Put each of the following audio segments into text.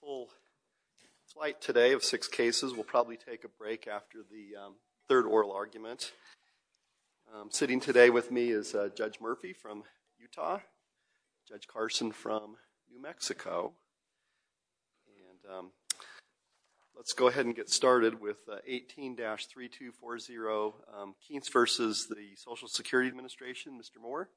Full flight today of six cases. We'll probably take a break after the third oral argument. Sitting today with me is Judge Murphy from Utah, Judge Carson from New Mexico. Let's go ahead and get started with 18-3240, Kientz versus the Social Security Administration, Mr. Moore.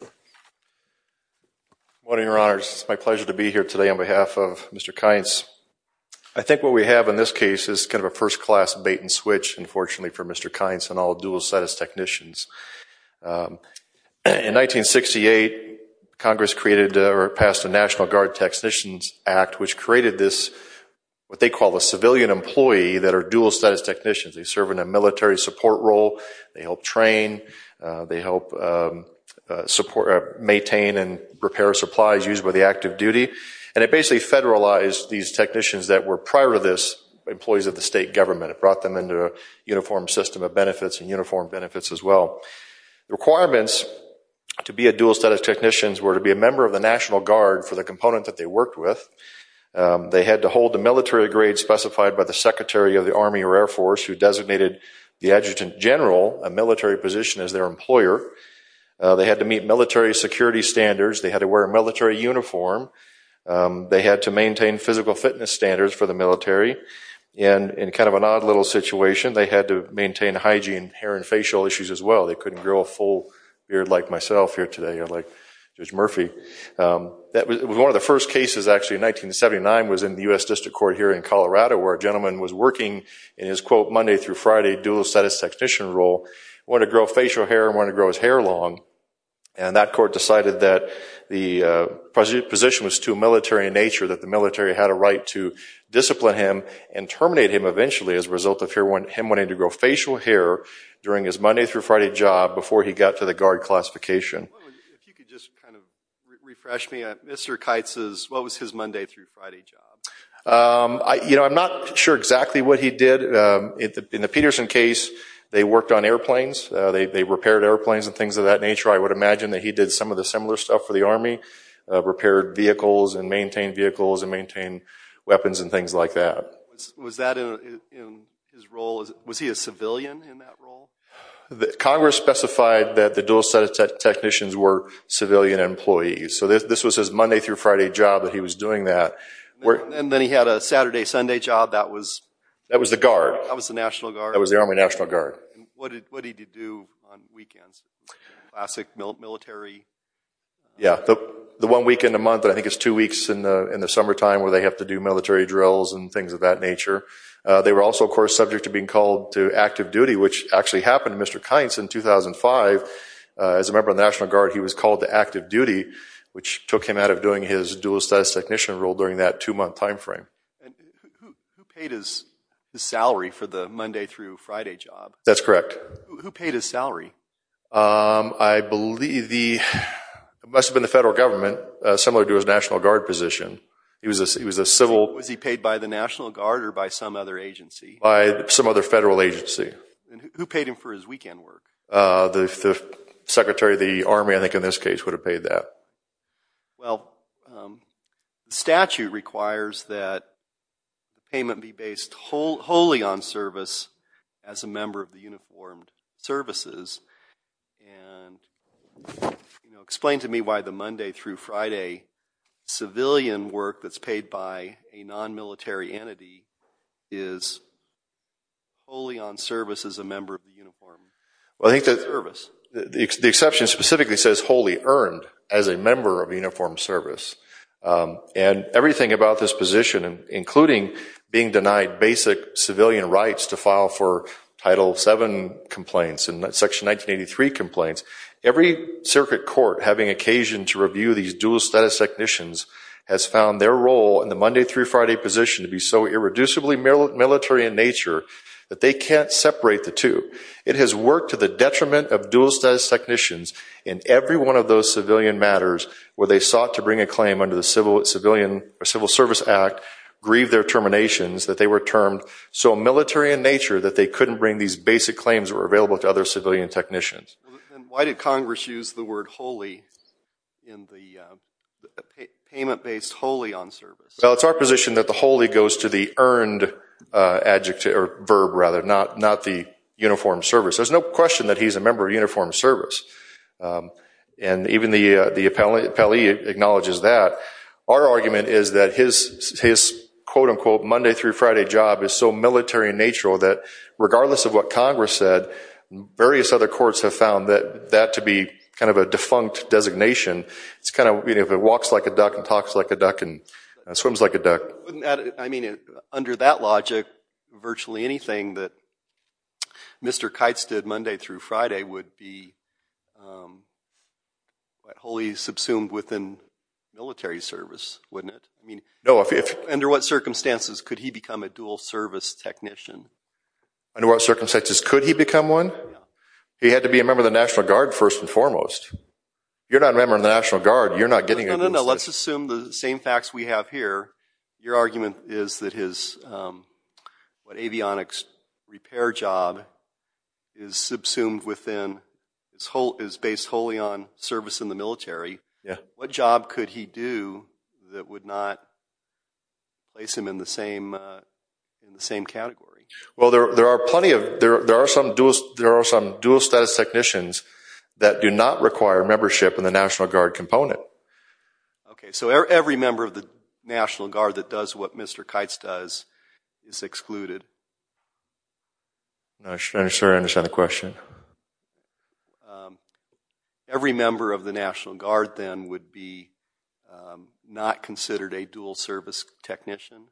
Good morning, Your Honors. It's my pleasure to be here today on behalf of Mr. Kientz. I think what we have in this case is kind of a first class bait and switch, unfortunately, for Mr. Kientz and all dual status technicians. In 1968, Congress created or passed the National Guard Technicians Act, which created this, what they call a civilian employee that are dual status technicians. They serve in a military support role. They help train. They help maintain and repair supplies used by the active duty. And it basically federalized these technicians that were prior to this employees of the state government. It brought them into a uniform system of benefits and uniform benefits as well. Requirements to be a dual status technicians were to be a member of the National Guard for the component that they worked with. They had to hold the military grade specified by the Secretary of the Army or Air Force who designated the Adjutant General, a military position, as their employer. They had to meet military security standards. They had to wear a military uniform. They had to maintain physical fitness standards for the military. And in kind of an odd little situation, they had to maintain hygiene, hair, and facial issues as well. They couldn't grow a full beard like myself here today, like Judge Murphy. That was one of the first cases, actually, in 1979 was in the US District Court here in Colorado where a gentleman was working in his, quote, Monday through Friday dual status technician role, wanted to grow facial hair and wanted to grow his hair long. And that court decided that the position was too military in nature, that the military had a right to discipline him and terminate him eventually as a result of him wanting to grow facial hair during his Monday through Friday job before he got to the guard classification. If you could just kind of refresh me on Mr. Keitz's, what was his Monday through Friday job? I'm not sure exactly what he did. In the Peterson case, they worked on airplanes. They repaired airplanes and things of that nature. I would imagine that he did some of the similar stuff for the Army, repaired vehicles and maintained vehicles and maintained weapons and things like that. Was that in his role? Was he a civilian in that role? Congress specified that the dual status technicians were civilian employees. So this was his Monday through Friday job that he was doing that. And then he had a Saturday, Sunday job that was? That was the guard. That was the National Guard? That was the Army National Guard. And what did he do on weekends? Classic military? Yeah, the one weekend a month, I think it's two weeks in the summertime where they have to do military drills and things of that nature. They were also, of course, subject to being called to active duty, which actually happened to Mr. Kynes in 2005. As a member of the National Guard, he was called to active duty, which took him out of doing his dual status technician role during that two-month time frame. Who paid his salary for the Monday through Friday job? That's correct. Who paid his salary? I believe the, it must have been the federal government, similar to his National Guard position. He was a civil. Was he paid by the National Guard or by some other agency? By some other federal agency. Who paid him for his weekend work? The Secretary of the Army, I think, in this case, would have paid that. Well, the statute requires that the payment be based wholly on service as a member of the uniformed services. And explain to me why the Monday through Friday civilian work that's paid by a non-military entity is wholly on service as a member of the uniformed service. The exception specifically says wholly earned as a member of uniformed service. And everything about this position, including being denied basic civilian rights to file for Title VII complaints and Section 1983 complaints, every circuit court having occasion to review these dual status technicians has found their role in the Monday through Friday position to be so irreducibly military in nature that they can't separate the two. It has worked to the detriment of dual status technicians in every one of those civilian matters where they sought to bring a claim under the Civil Service Act, grieve their terminations, that they were termed so military in nature that they couldn't bring these basic claims that were available to other civilian technicians. Why did Congress use the word wholly in the payment based wholly on service? Well, it's our position that the wholly goes to the earned adjective, or verb rather, not the uniformed service. There's no question that he's a member of uniformed service. And even the appellee acknowledges that. Our argument is that his quote unquote Monday through Friday job is so military in nature that regardless of what Congress said, various other courts have found that to be kind of a defunct designation. It's kind of if it walks like a duck and talks like a duck and swims like a duck. I mean, under that logic, virtually anything that Mr. Kites did Monday through Friday would be wholly subsumed within military service, wouldn't it? Under what circumstances could he become a dual service technician? Under what circumstances could he become one? He had to be a member of the National Guard first and foremost. You're not a member of the National Guard. You're not getting a dual service technician. Let's assume the same facts we have here. Your argument is that his avionics repair job is subsumed within, is based wholly on service in the military. What job could he do that would not place him in the same category? Well, there are some dual status technicians that do not require membership in the National Guard component. OK, so every member of the National Guard that does what Mr. Kites does is excluded? I'm sorry, I don't understand the question. Every member of the National Guard, then, would be not considered a dual service technician?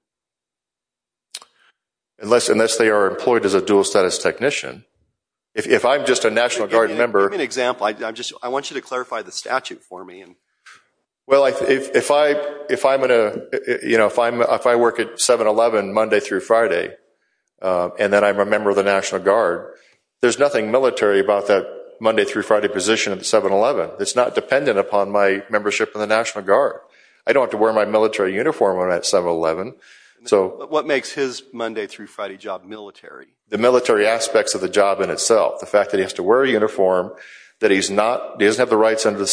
Unless they are employed as a dual status technician. If I'm just a National Guard member. Give me an example. I want you to clarify the statute for me. Well, if I work at 7-Eleven Monday through Friday, and then I'm a member of the National Guard, there's nothing military about that Monday through Friday position at 7-Eleven. It's not dependent upon my membership in the National Guard. I don't have to wear my military uniform when I'm at 7-Eleven. What makes his Monday through Friday job military? The military aspects of the job in itself. The fact that he has to wear a uniform, that he doesn't have the rights under the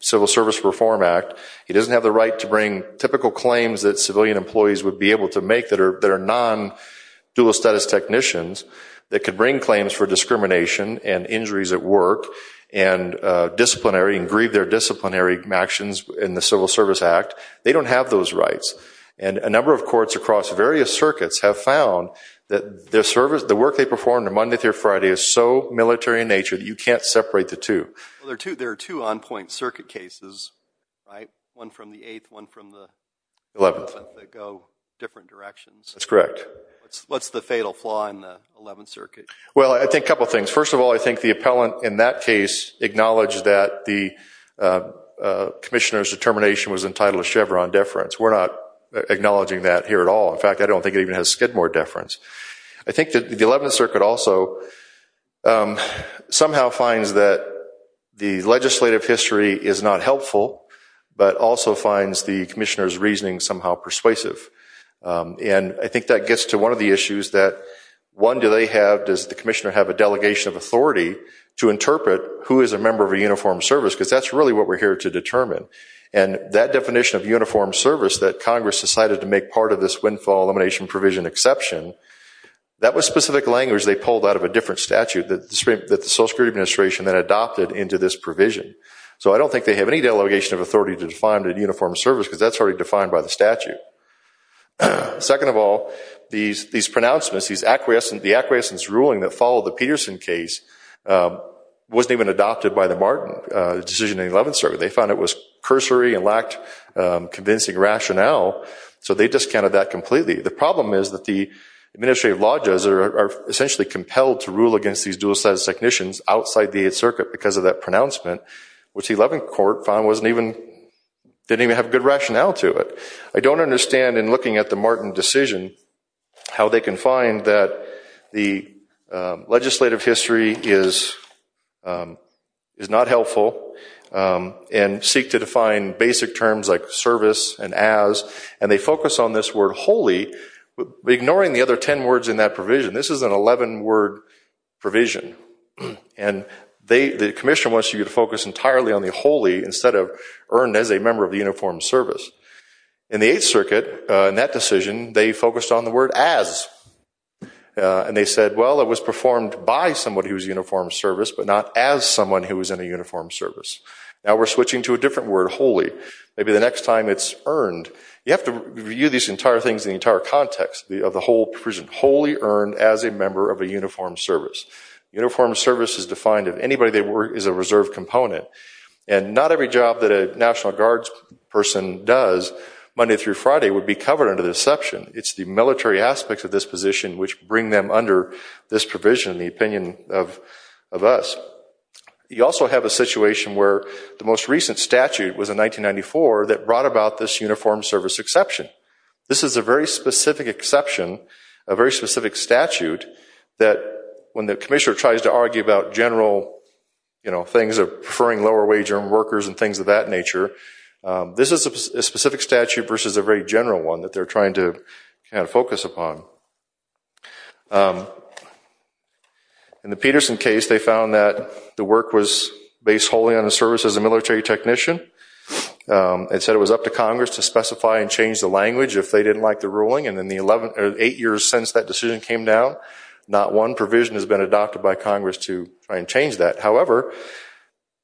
Civil Service Reform Act, he doesn't have the right to bring typical claims that civilian employees would be able to make that are non-dual status technicians, that could bring claims for discrimination and injuries at work, and disciplinary, and grieve their disciplinary actions in the Civil Service Act. They don't have those rights. And a number of courts across various circuits have found that the work they perform on Monday through can't separate the two. There are two on-point circuit cases, one from the 8th, one from the 11th, that go different directions. That's correct. What's the fatal flaw in the 11th Circuit? Well, I think a couple of things. First of all, I think the appellant in that case acknowledged that the commissioner's determination was entitled to Chevron deference. We're not acknowledging that here at all. In fact, I don't think it even has Skidmore deference. I think that the 11th Circuit also somehow finds that the legislative history is not helpful, but also finds the commissioner's reasoning somehow persuasive. And I think that gets to one of the issues that, one, do they have, does the commissioner have, a delegation of authority to interpret who is a member of a uniformed service? Because that's really what we're here to determine. And that definition of uniformed service that Congress decided to make part of this windfall elimination provision exception, that was specific language they pulled out of a different statute that the Social Security Administration then adopted into this provision. So I don't think they have any delegation of authority to define a uniformed service, because that's already defined by the statute. Second of all, these pronouncements, the acquiescence ruling that followed the Peterson case wasn't even adopted by the decision in the 11th Circuit. They found it was cursory and lacked convincing rationale. So they discounted that completely. The problem is that the administrative law judges are essentially compelled to rule against these dual status technicians outside the 8th Circuit because of that pronouncement, which the 11th Court found didn't even have good rationale to it. I don't understand, in looking at the Martin decision, how they can find that the legislative history is not helpful and seek to define basic terms like service and as, and they focus on this word wholly, ignoring the other 10 words in that provision. This is an 11-word provision. And the commissioner wants you to focus entirely on the wholly instead of earned as a member of the uniformed service. In the 8th Circuit, in that decision, they focused on the word as. And they said, well, it was performed by somebody who was uniformed service, but not as someone who was in a uniformed service. Now we're switching to a different word, wholly. Maybe the next time it's earned. You have to review these entire things in the entire context of the whole provision. Wholly earned as a member of a uniformed service. Uniformed service is defined if anybody they work is a reserve component. And not every job that a National Guard person does Monday through Friday would be covered under this section. It's the military aspects of this position which bring them under this provision, the opinion of us. You also have a situation where the most recent statute was in 1994 that brought about this uniformed service exception. This is a very specific exception, a very specific statute, that when the commissioner tries to argue about general things of preferring lower wage earned workers and things of that nature, this is a specific statute versus a very general one that they're trying to focus upon. In the Peterson case, they found that the work was based wholly on the service as a military technician. It said it was up to Congress to specify and change the language if they didn't like the ruling. And in the eight years since that decision came down, not one provision has been adopted by Congress to try and change that. However,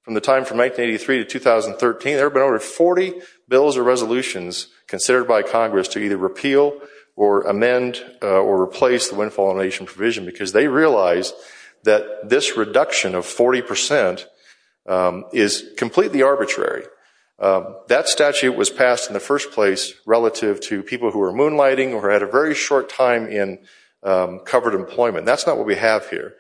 from the time from 1983 to 2013, there have been over 40 bills or resolutions considered by Congress to either repeal or amend or replace the Windfall Elimination Provision because they realize that this reduction of 40% is completely arbitrary. That statute was passed in the first place relative to people who are moonlighting or had a very short time in covered employment. That's not what we have here.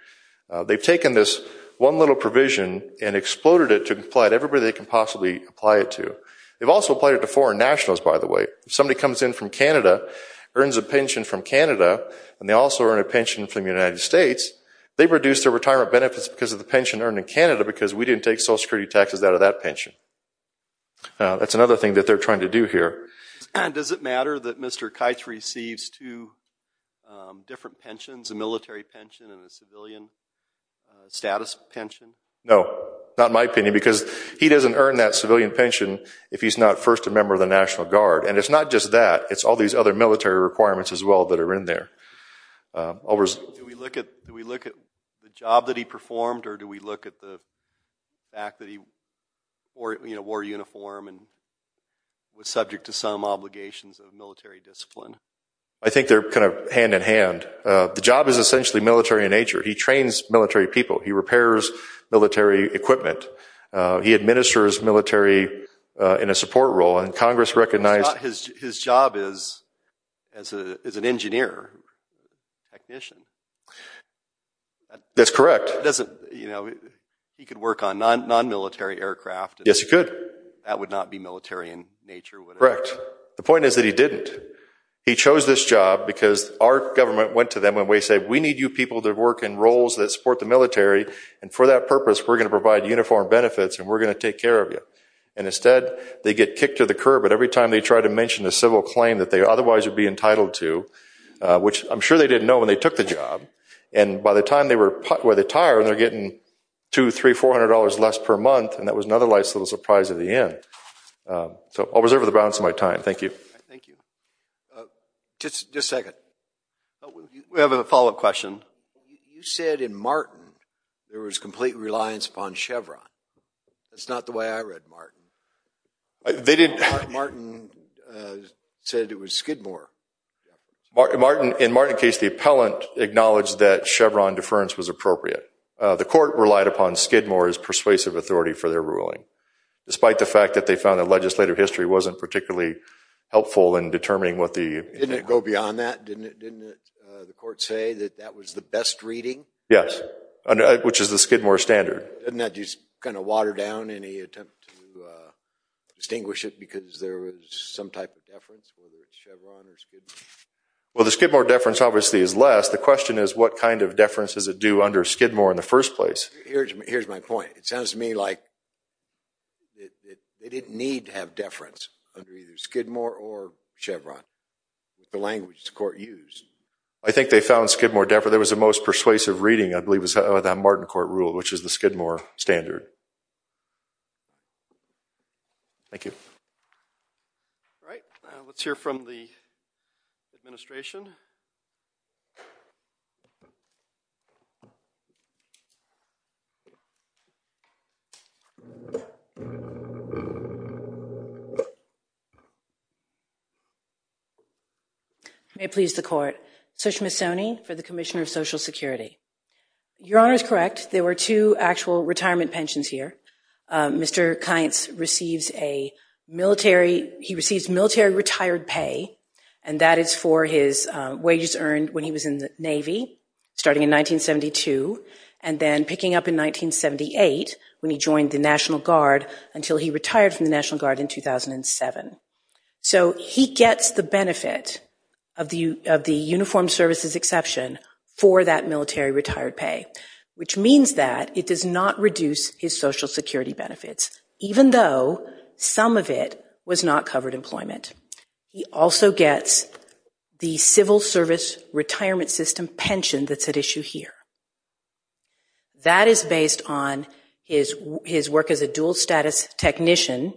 They've taken this one little provision and exploded it to apply to everybody they can possibly apply it to. They've also applied it to foreign nationals, by the way. If somebody comes in from Canada, earns a pension from Canada, and they also earn a pension from the United States, they've reduced their retirement benefits because of the pension earned in Canada because we didn't take Social Security taxes out of that pension. That's another thing that they're trying to do here. Does it matter that Mr. Kites receives two different pensions, a military pension and a civilian status pension? No, not in my opinion because he doesn't earn that civilian pension if he's not first a member of the National Guard. And it's not just that. It's all these other military requirements as well that are in there. Do we look at the job that he performed or do we look at the fact that he wore a uniform and was subject to some obligations of military discipline? I think they're kind of hand in hand. The job is essentially military in nature. He trains military people. He repairs military equipment. He administers military in a support role. And Congress recognized- His job is as an engineer, technician. That's correct. He could work on non-military aircraft. Yes, he could. That would not be military in nature. Correct. The point is that he didn't. He chose this job because our government went to them and we said, we need you people to work in roles that support the military. And for that purpose, we're going to provide uniform benefits and we're going to take care of you. And instead, they get kicked to the curb at every time they try to mention a civil claim that they otherwise would be entitled to, which I'm sure they didn't know when they took the job. And by the time they were retired, they're getting $200, $300, $400 less per month. And that was another nice little surprise at the end. So I'll reserve the balance of my time. Thank you. Thank you. Just a second. We have a follow-up question. You said in Martin, there was complete reliance upon Chevron. That's not the way I read Martin. Martin said it was Skidmore. In Martin's case, the appellant acknowledged that Chevron deference was appropriate. The court relied upon Skidmore's persuasive authority for their ruling, despite the fact that they found that legislative history wasn't particularly helpful in determining what the- Didn't it go beyond that? Didn't the court say that that was the best reading? Yes, which is the Skidmore standard. Didn't that just kind of water down any attempt to distinguish it because there was some type of deference, whether it's Chevron or Skidmore? Well, the Skidmore deference, obviously, is less. The question is, what kind of deference does it do under Skidmore in the first place? Here's my point. It sounds to me like they didn't need to have deference under either Skidmore or Chevron. The language the court used. I think they found Skidmore deference. It was the most persuasive reading, I believe, was that Martin court rule, which is the Skidmore standard. Thank you. All right, let's hear from the administration. You may please the court. Sush Misoni for the Commissioner of Social Security. Your honor is correct. There were two actual retirement pensions here. Mr. Kainz receives a military- he receives military retired pay. And that is for his wages earned when he was in the Navy, starting in 1972, and then picking up in 1978 when he joined the National Guard until he retired from the National Guard in 2007. So he gets the benefit of the uniformed services exception for that military retired pay, which means that it does not reduce his Social Security benefits, even though some of it was not covered employment. He also gets the civil service retirement system pension that's at issue here. That is based on his work as a dual status technician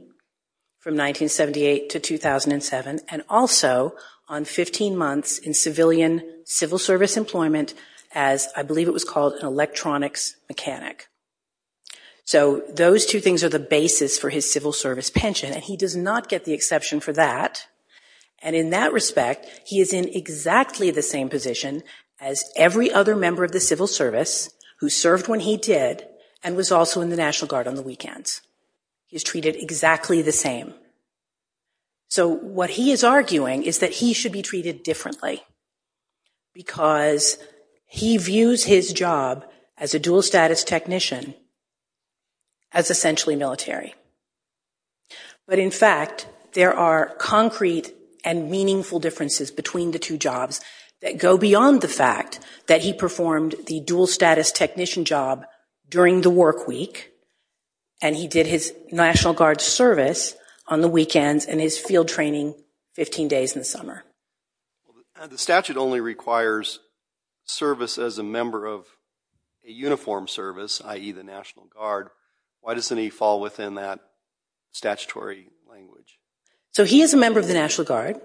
from 1978 to 2007, and also on 15 months in civilian civil service employment as, I believe it was called, an electronics mechanic. So those two things are the basis for his civil service pension. And he does not get the exception for that. And in that respect, he is in exactly the same position as every other member of the civil service who served when he did and was also in the National Guard on the weekends. He's treated exactly the same. So what he is arguing is that he should be treated differently because he views his job as a dual status technician as essentially military. But in fact, there are concrete and meaningful differences between the two jobs that go beyond the fact that he performed the dual status technician job during the work week. And he did his National Guard service on the weekends and his field training 15 days in the summer. The statute only requires service as a member of a uniformed service, i.e. the National Guard. Why doesn't he fall within that statutory language? So he is a member of the National Guard.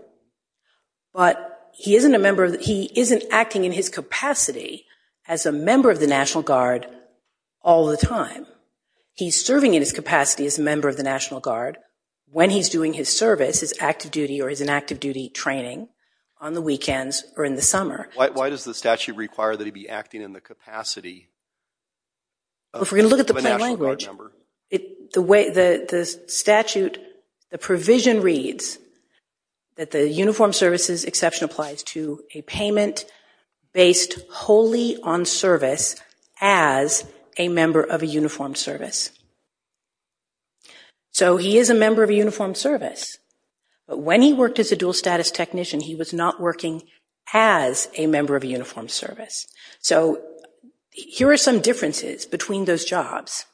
But he isn't acting in his capacity as a member of the National Guard all the time. He's serving in his capacity as a member of the National Guard when he's doing his service, his active duty or his inactive duty training on the weekends or in the summer. Why does the statute require that he be acting in the capacity of a National Guard member? If we're going to look at the plain language, the provision reads that the uniformed services exception applies to a payment based wholly on service as a member of a uniformed service. So he is a member of a uniformed service. But when he worked as a dual status technician, he was not working as a member of a uniformed service. So here are some differences between those jobs.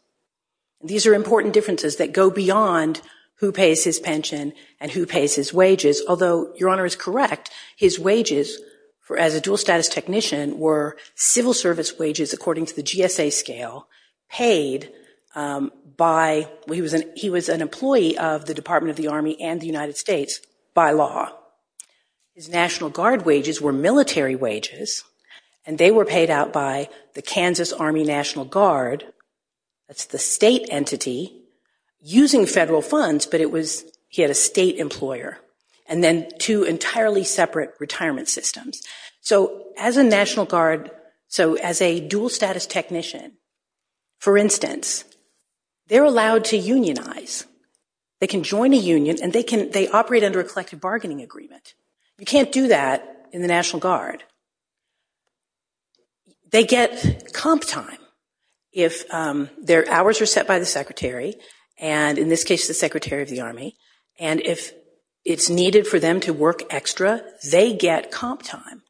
These are important differences that go beyond who pays his pension and who pays his wages. Although Your Honor is correct, his wages as a dual status technician were civil service wages, according to the GSA scale, paid by he was an employee of the Department of the Army and the United States by law. His National Guard wages were military wages. And they were paid out by the Kansas Army National Guard. That's the state entity using federal funds. But he had a state employer. And then two entirely separate retirement systems. So as a National Guard, so as a dual status technician, for instance, they're allowed to unionize. They can join a union. And they operate under a collective bargaining agreement. You can't do that in the National Guard. They get comp time if their hours are set by the secretary. And in this case, the Secretary of the Army. And if it's needed for them to work extra, they get comp time.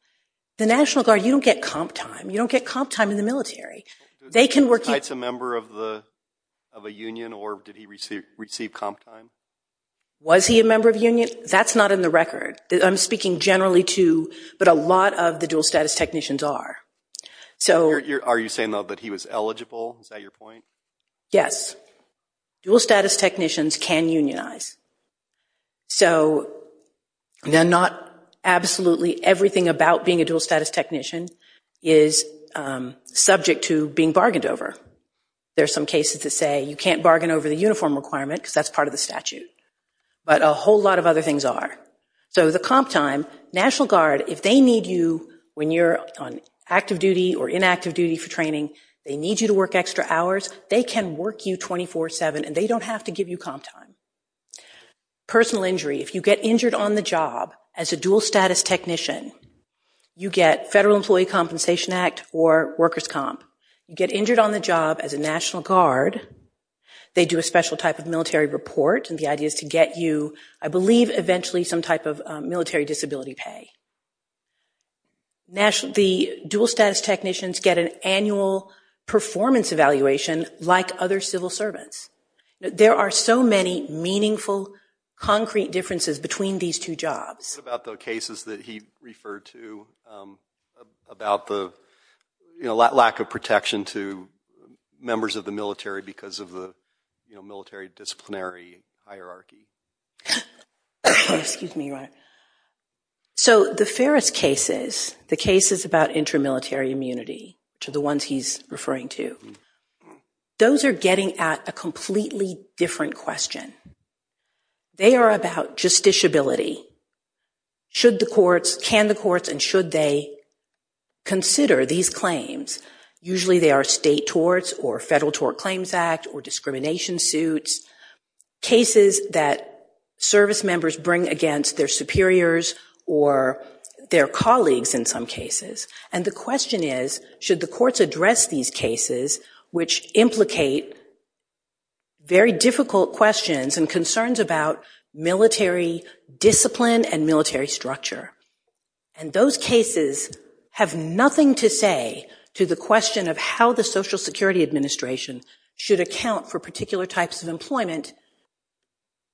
The National Guard, you don't get comp time. You don't get comp time in the military. They can work. Was he a member of a union? Or did he receive comp time? Was he a member of a union? That's not in the record. I'm speaking generally to, but a lot of the dual status technicians are. Are you saying, though, that he was eligible? Is that your point? Yes. Dual status technicians can unionize. So not absolutely everything about being a dual status technician is subject to being bargained over. There are some cases that say, you can't bargain over the uniform requirement because that's part of the statute. But a whole lot of other things are. So the comp time, National Guard, if they need you when you're on active duty or inactive duty for training, they need you to work extra hours, they can work you 24-7. And they don't have to give you comp time. Personal injury, if you get injured on the job as a dual status technician, you get Federal Employee Compensation Act or workers' comp. You get injured on the job as a National Guard, they do a special type of military report. And the idea is to get you, I believe, eventually some type of military disability pay. The dual status technicians get an annual performance evaluation like other civil servants. There are so many meaningful, concrete differences between these two jobs. What about the cases that he referred to about the lack of protection to members of the military because of the military disciplinary hierarchy? Excuse me, Ryan. So the Ferris cases, the cases about intramilitary immunity, to the ones he's referring to, those are getting at a completely different question. They are about justiciability. Should the courts, can the courts, and should they consider these claims? Usually they are state torts or Federal Tort Claims Act or discrimination suits, cases that service members bring against their superiors or their colleagues in some cases. And the question is, should the courts address these cases which implicate very difficult questions and concerns about military discipline and military structure? And those cases have nothing to say to the question of how the Social Security Administration should account for particular types of employment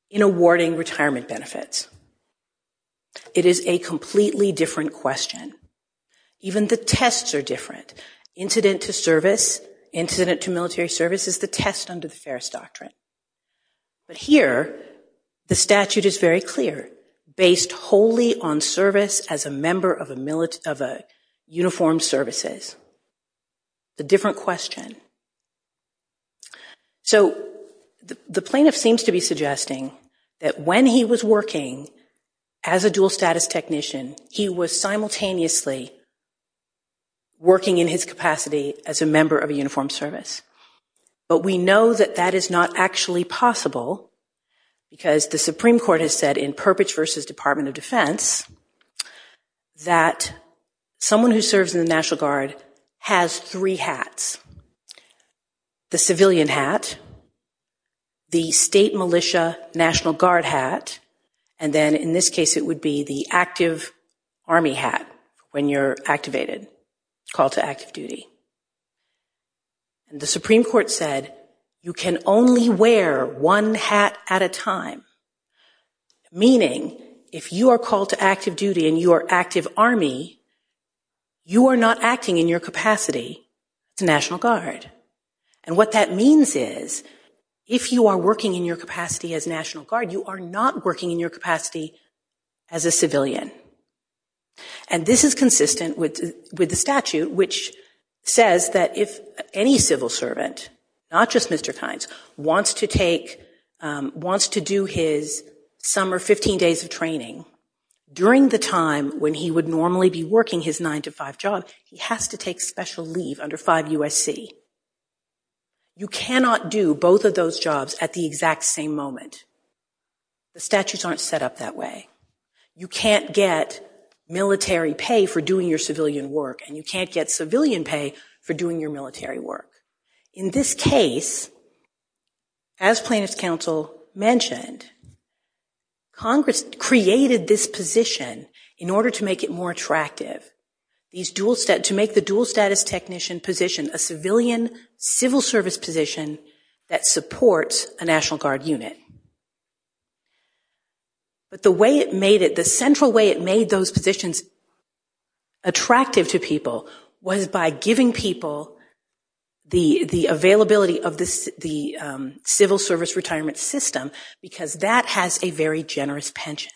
in awarding retirement benefits. It is a completely different question. Even the tests are different. Incident to service, incident to military service is the test under the Ferris Doctrine. But here, the statute is very clear, based wholly on service as a member of a uniformed services. It's a different question. So the plaintiff seems to be suggesting that when he was working as a dual status technician, he was simultaneously working in his capacity as a member of a uniformed service. But we know that that is not actually possible because the Supreme Court has said in Perpich versus Department of Defense that someone who serves in the National Guard has three hats, the civilian hat, the state militia National Guard hat, and then in this case, it would be the active Army hat when you're activated, called to active duty. And the Supreme Court said, you can only wear one hat at a time, meaning if you are called to active duty and you are active Army, you are not acting in your capacity as a National Guard. And what that means is, if you are working in your capacity as National Guard, you are not working in your capacity as a civilian. And this is consistent with the statute, which says that if any civil servant, not just Mr. Kynes, wants to do his summer 15 days of training during the time when he would normally be working his nine to five job, he has to take special leave under 5 USC. You cannot do both of those jobs at the exact same moment. The statutes aren't set up that way. You can't get military pay for doing your civilian work, and you can't get civilian pay for doing your military work. In this case, as plaintiff's counsel mentioned, Congress created this position in order to make it more attractive. To make the dual status technician position a civilian civil service position that supports a National Guard unit. But the way it made it, the central way it made those positions attractive to people was by giving people the availability of the civil service retirement system because that has a very generous pension.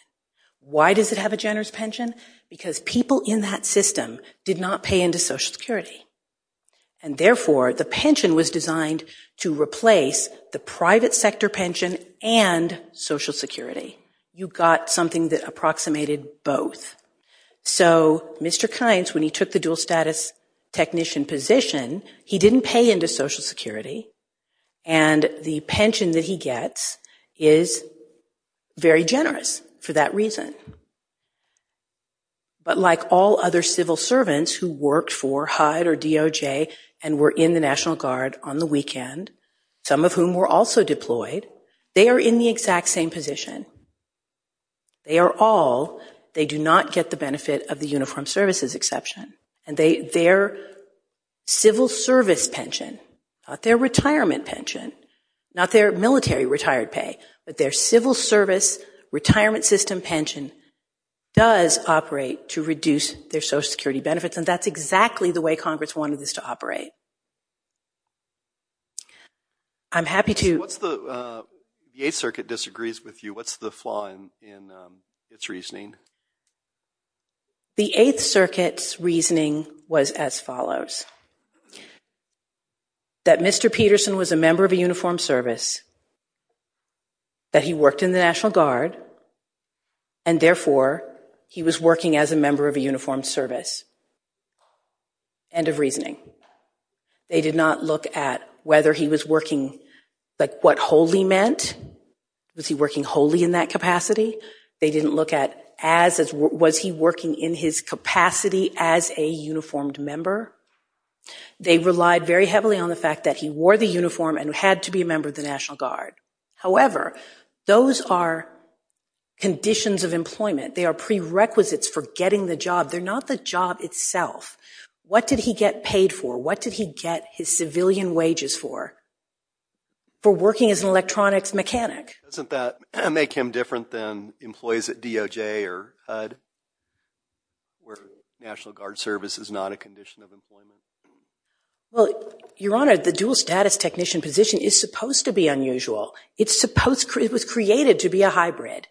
Why does it have a generous pension? Because people in that system did not pay into social security. And therefore the pension was designed to replace the private sector pension and social security. You got something that approximated both. So Mr. Kynes, when he took the dual status technician position, he didn't pay into social security. And the pension that he gets is very generous for that reason. But like all other civil servants who worked for HUD or DOJ and were in the National Guard on the weekend, some of whom were also deployed, they are in the exact same position. They are all, they do not get the benefit of the uniformed services exception. And their civil service pension, not their retirement pension, not their military retired pay, but their civil service retirement system pension does operate to reduce their social security benefits. And that's exactly the way Congress wanted this to operate. I'm happy to- What's the, the Eighth Circuit disagrees with you. What's the flaw in its reasoning? The Eighth Circuit's reasoning was as follows. That Mr. Peterson was a member of a uniformed service, that he worked in the National Guard, and therefore he was working as a member of a uniformed service. End of reasoning. They did not look at whether he was working, like what wholly meant. Was he working wholly in that capacity? They didn't look at as, was he working in his capacity as a uniformed member? They relied very heavily on the fact that he wore the uniform and had to be a member of the National Guard. However, those are conditions of employment. They are prerequisites for getting the job. They're not the job itself. What did he get paid for? What did he get his civilian wages for, for working as an electronics mechanic? Doesn't that make him different than employees at DOJ or HUD where National Guard service is not a condition of employment? Well, Your Honor, the dual status technician position is supposed to be unusual. It was created to be a hybrid.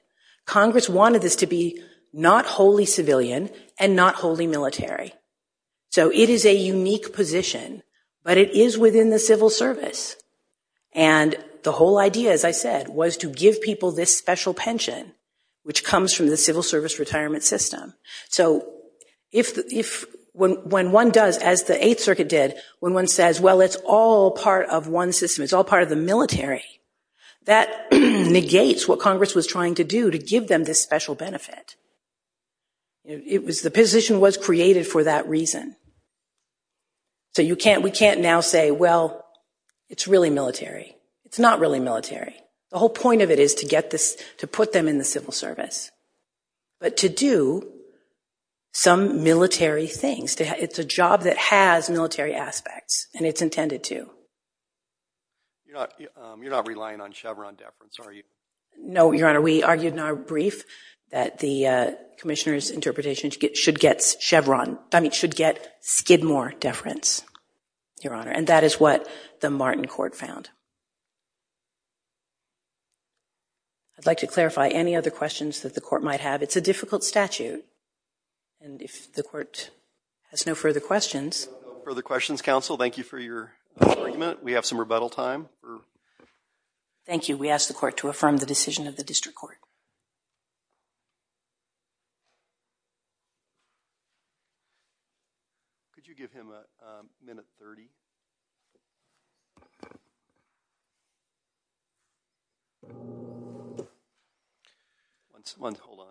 Congress wanted this to be not wholly civilian and not wholly military. So it is a unique position, but it is within the civil service. And the whole idea, as I said, was to give people this special pension, which comes from the civil service retirement system. So when one does, as the Eighth Circuit did, when one says, well, it's all part of one system, it's all part of the military, that negates what Congress was trying to do to give them this special benefit. It was the position was created for that reason. So we can't now say, well, it's really military. It's not really military. The whole point of it is to get this, to put them in the civil service, but to do some military things. It's a job that has military aspects, and it's intended to. You're not relying on Chevron deference, are you? No, Your Honor, we argued in our brief that the commissioner's interpretation should get Skidmore deference, Your Honor. And that is what the Martin Court found. I'd like to clarify any other questions that the court might have. It's a difficult statute. And if the court has no further questions. No further questions, counsel. Thank you for your argument. We have some rebuttal time. Thank you. We ask the court to affirm the decision of the district court. Could you give him a minute 30? Once, hold on.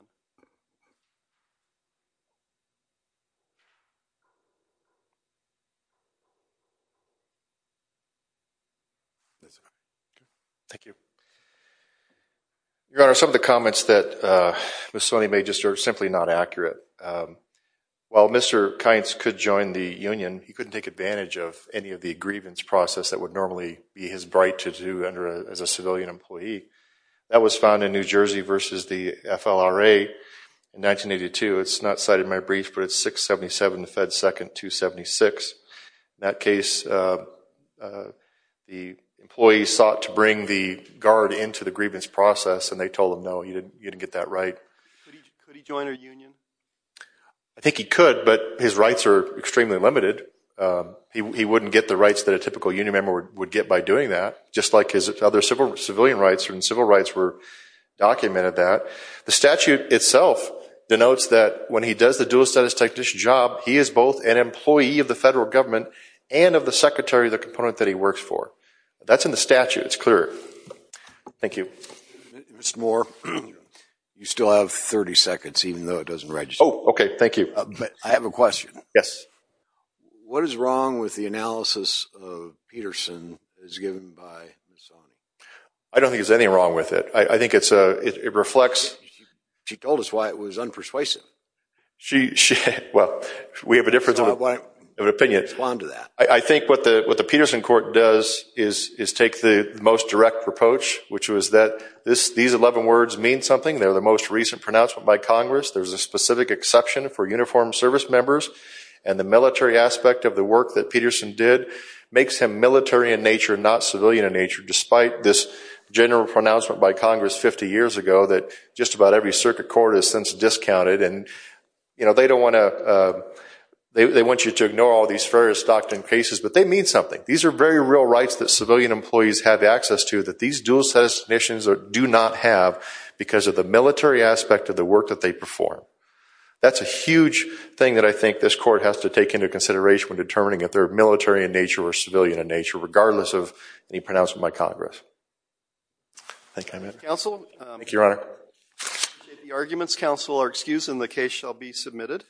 That's all right. Thank you. Your Honor, some of the comments that Ms. Swaney made just are simply not accurate. While Mr. Kintz could join the union, he couldn't take advantage of any of the grievance process that would normally be his right to do under as a civilian employee. That was found in New Jersey versus the FLRA in 1982. It's not cited in my brief, but it's 677 Fed 2nd 276. In that case, the employee sought to bring the guard into the grievance process, and they told him, no, you didn't get that right. Could he join a union? I think he could, but his rights are extremely limited. He wouldn't get the rights that a typical union member would get by doing that, just like his other civilian rights and civil rights were documented that. The statute itself denotes that when he does the dual status technician job, he is both an employee of the federal government and of the secretary of the component that he works for. That's in the statute, it's clear. Thank you. Mr. Moore, you still have 30 seconds, even though it doesn't register. Oh, okay, thank you. I have a question. Yes. What is wrong with the analysis of Peterson as given by Ms. Swaney? I don't think there's anything wrong with it. I think it's a, it reflects. She told us why it was unpersuasive. She, well, we have a difference of opinion. Respond to that. I think what the Peterson court does is take the most direct reproach, which was that these 11 words mean something. They're the most recent pronouncement by Congress. There's a specific exception for uniformed service members and the military aspect of the work that Peterson did makes him military in nature, not civilian in nature, despite this general pronouncement by Congress 50 years ago that just about every circuit court has since discounted and they don't want to, they want you to ignore all these various Stockton cases, but they mean something. These are very real rights that civilian employees have access to that these dual citizens do not have because of the military aspect of the work that they perform. That's a huge thing that I think this court has to take into consideration when determining if they're military in nature or civilian in nature, regardless of any pronouncement by Congress. Thank you, Mr. Counsel. Thank you, Your Honor. The arguments, counsel, are excused and the case shall be submitted.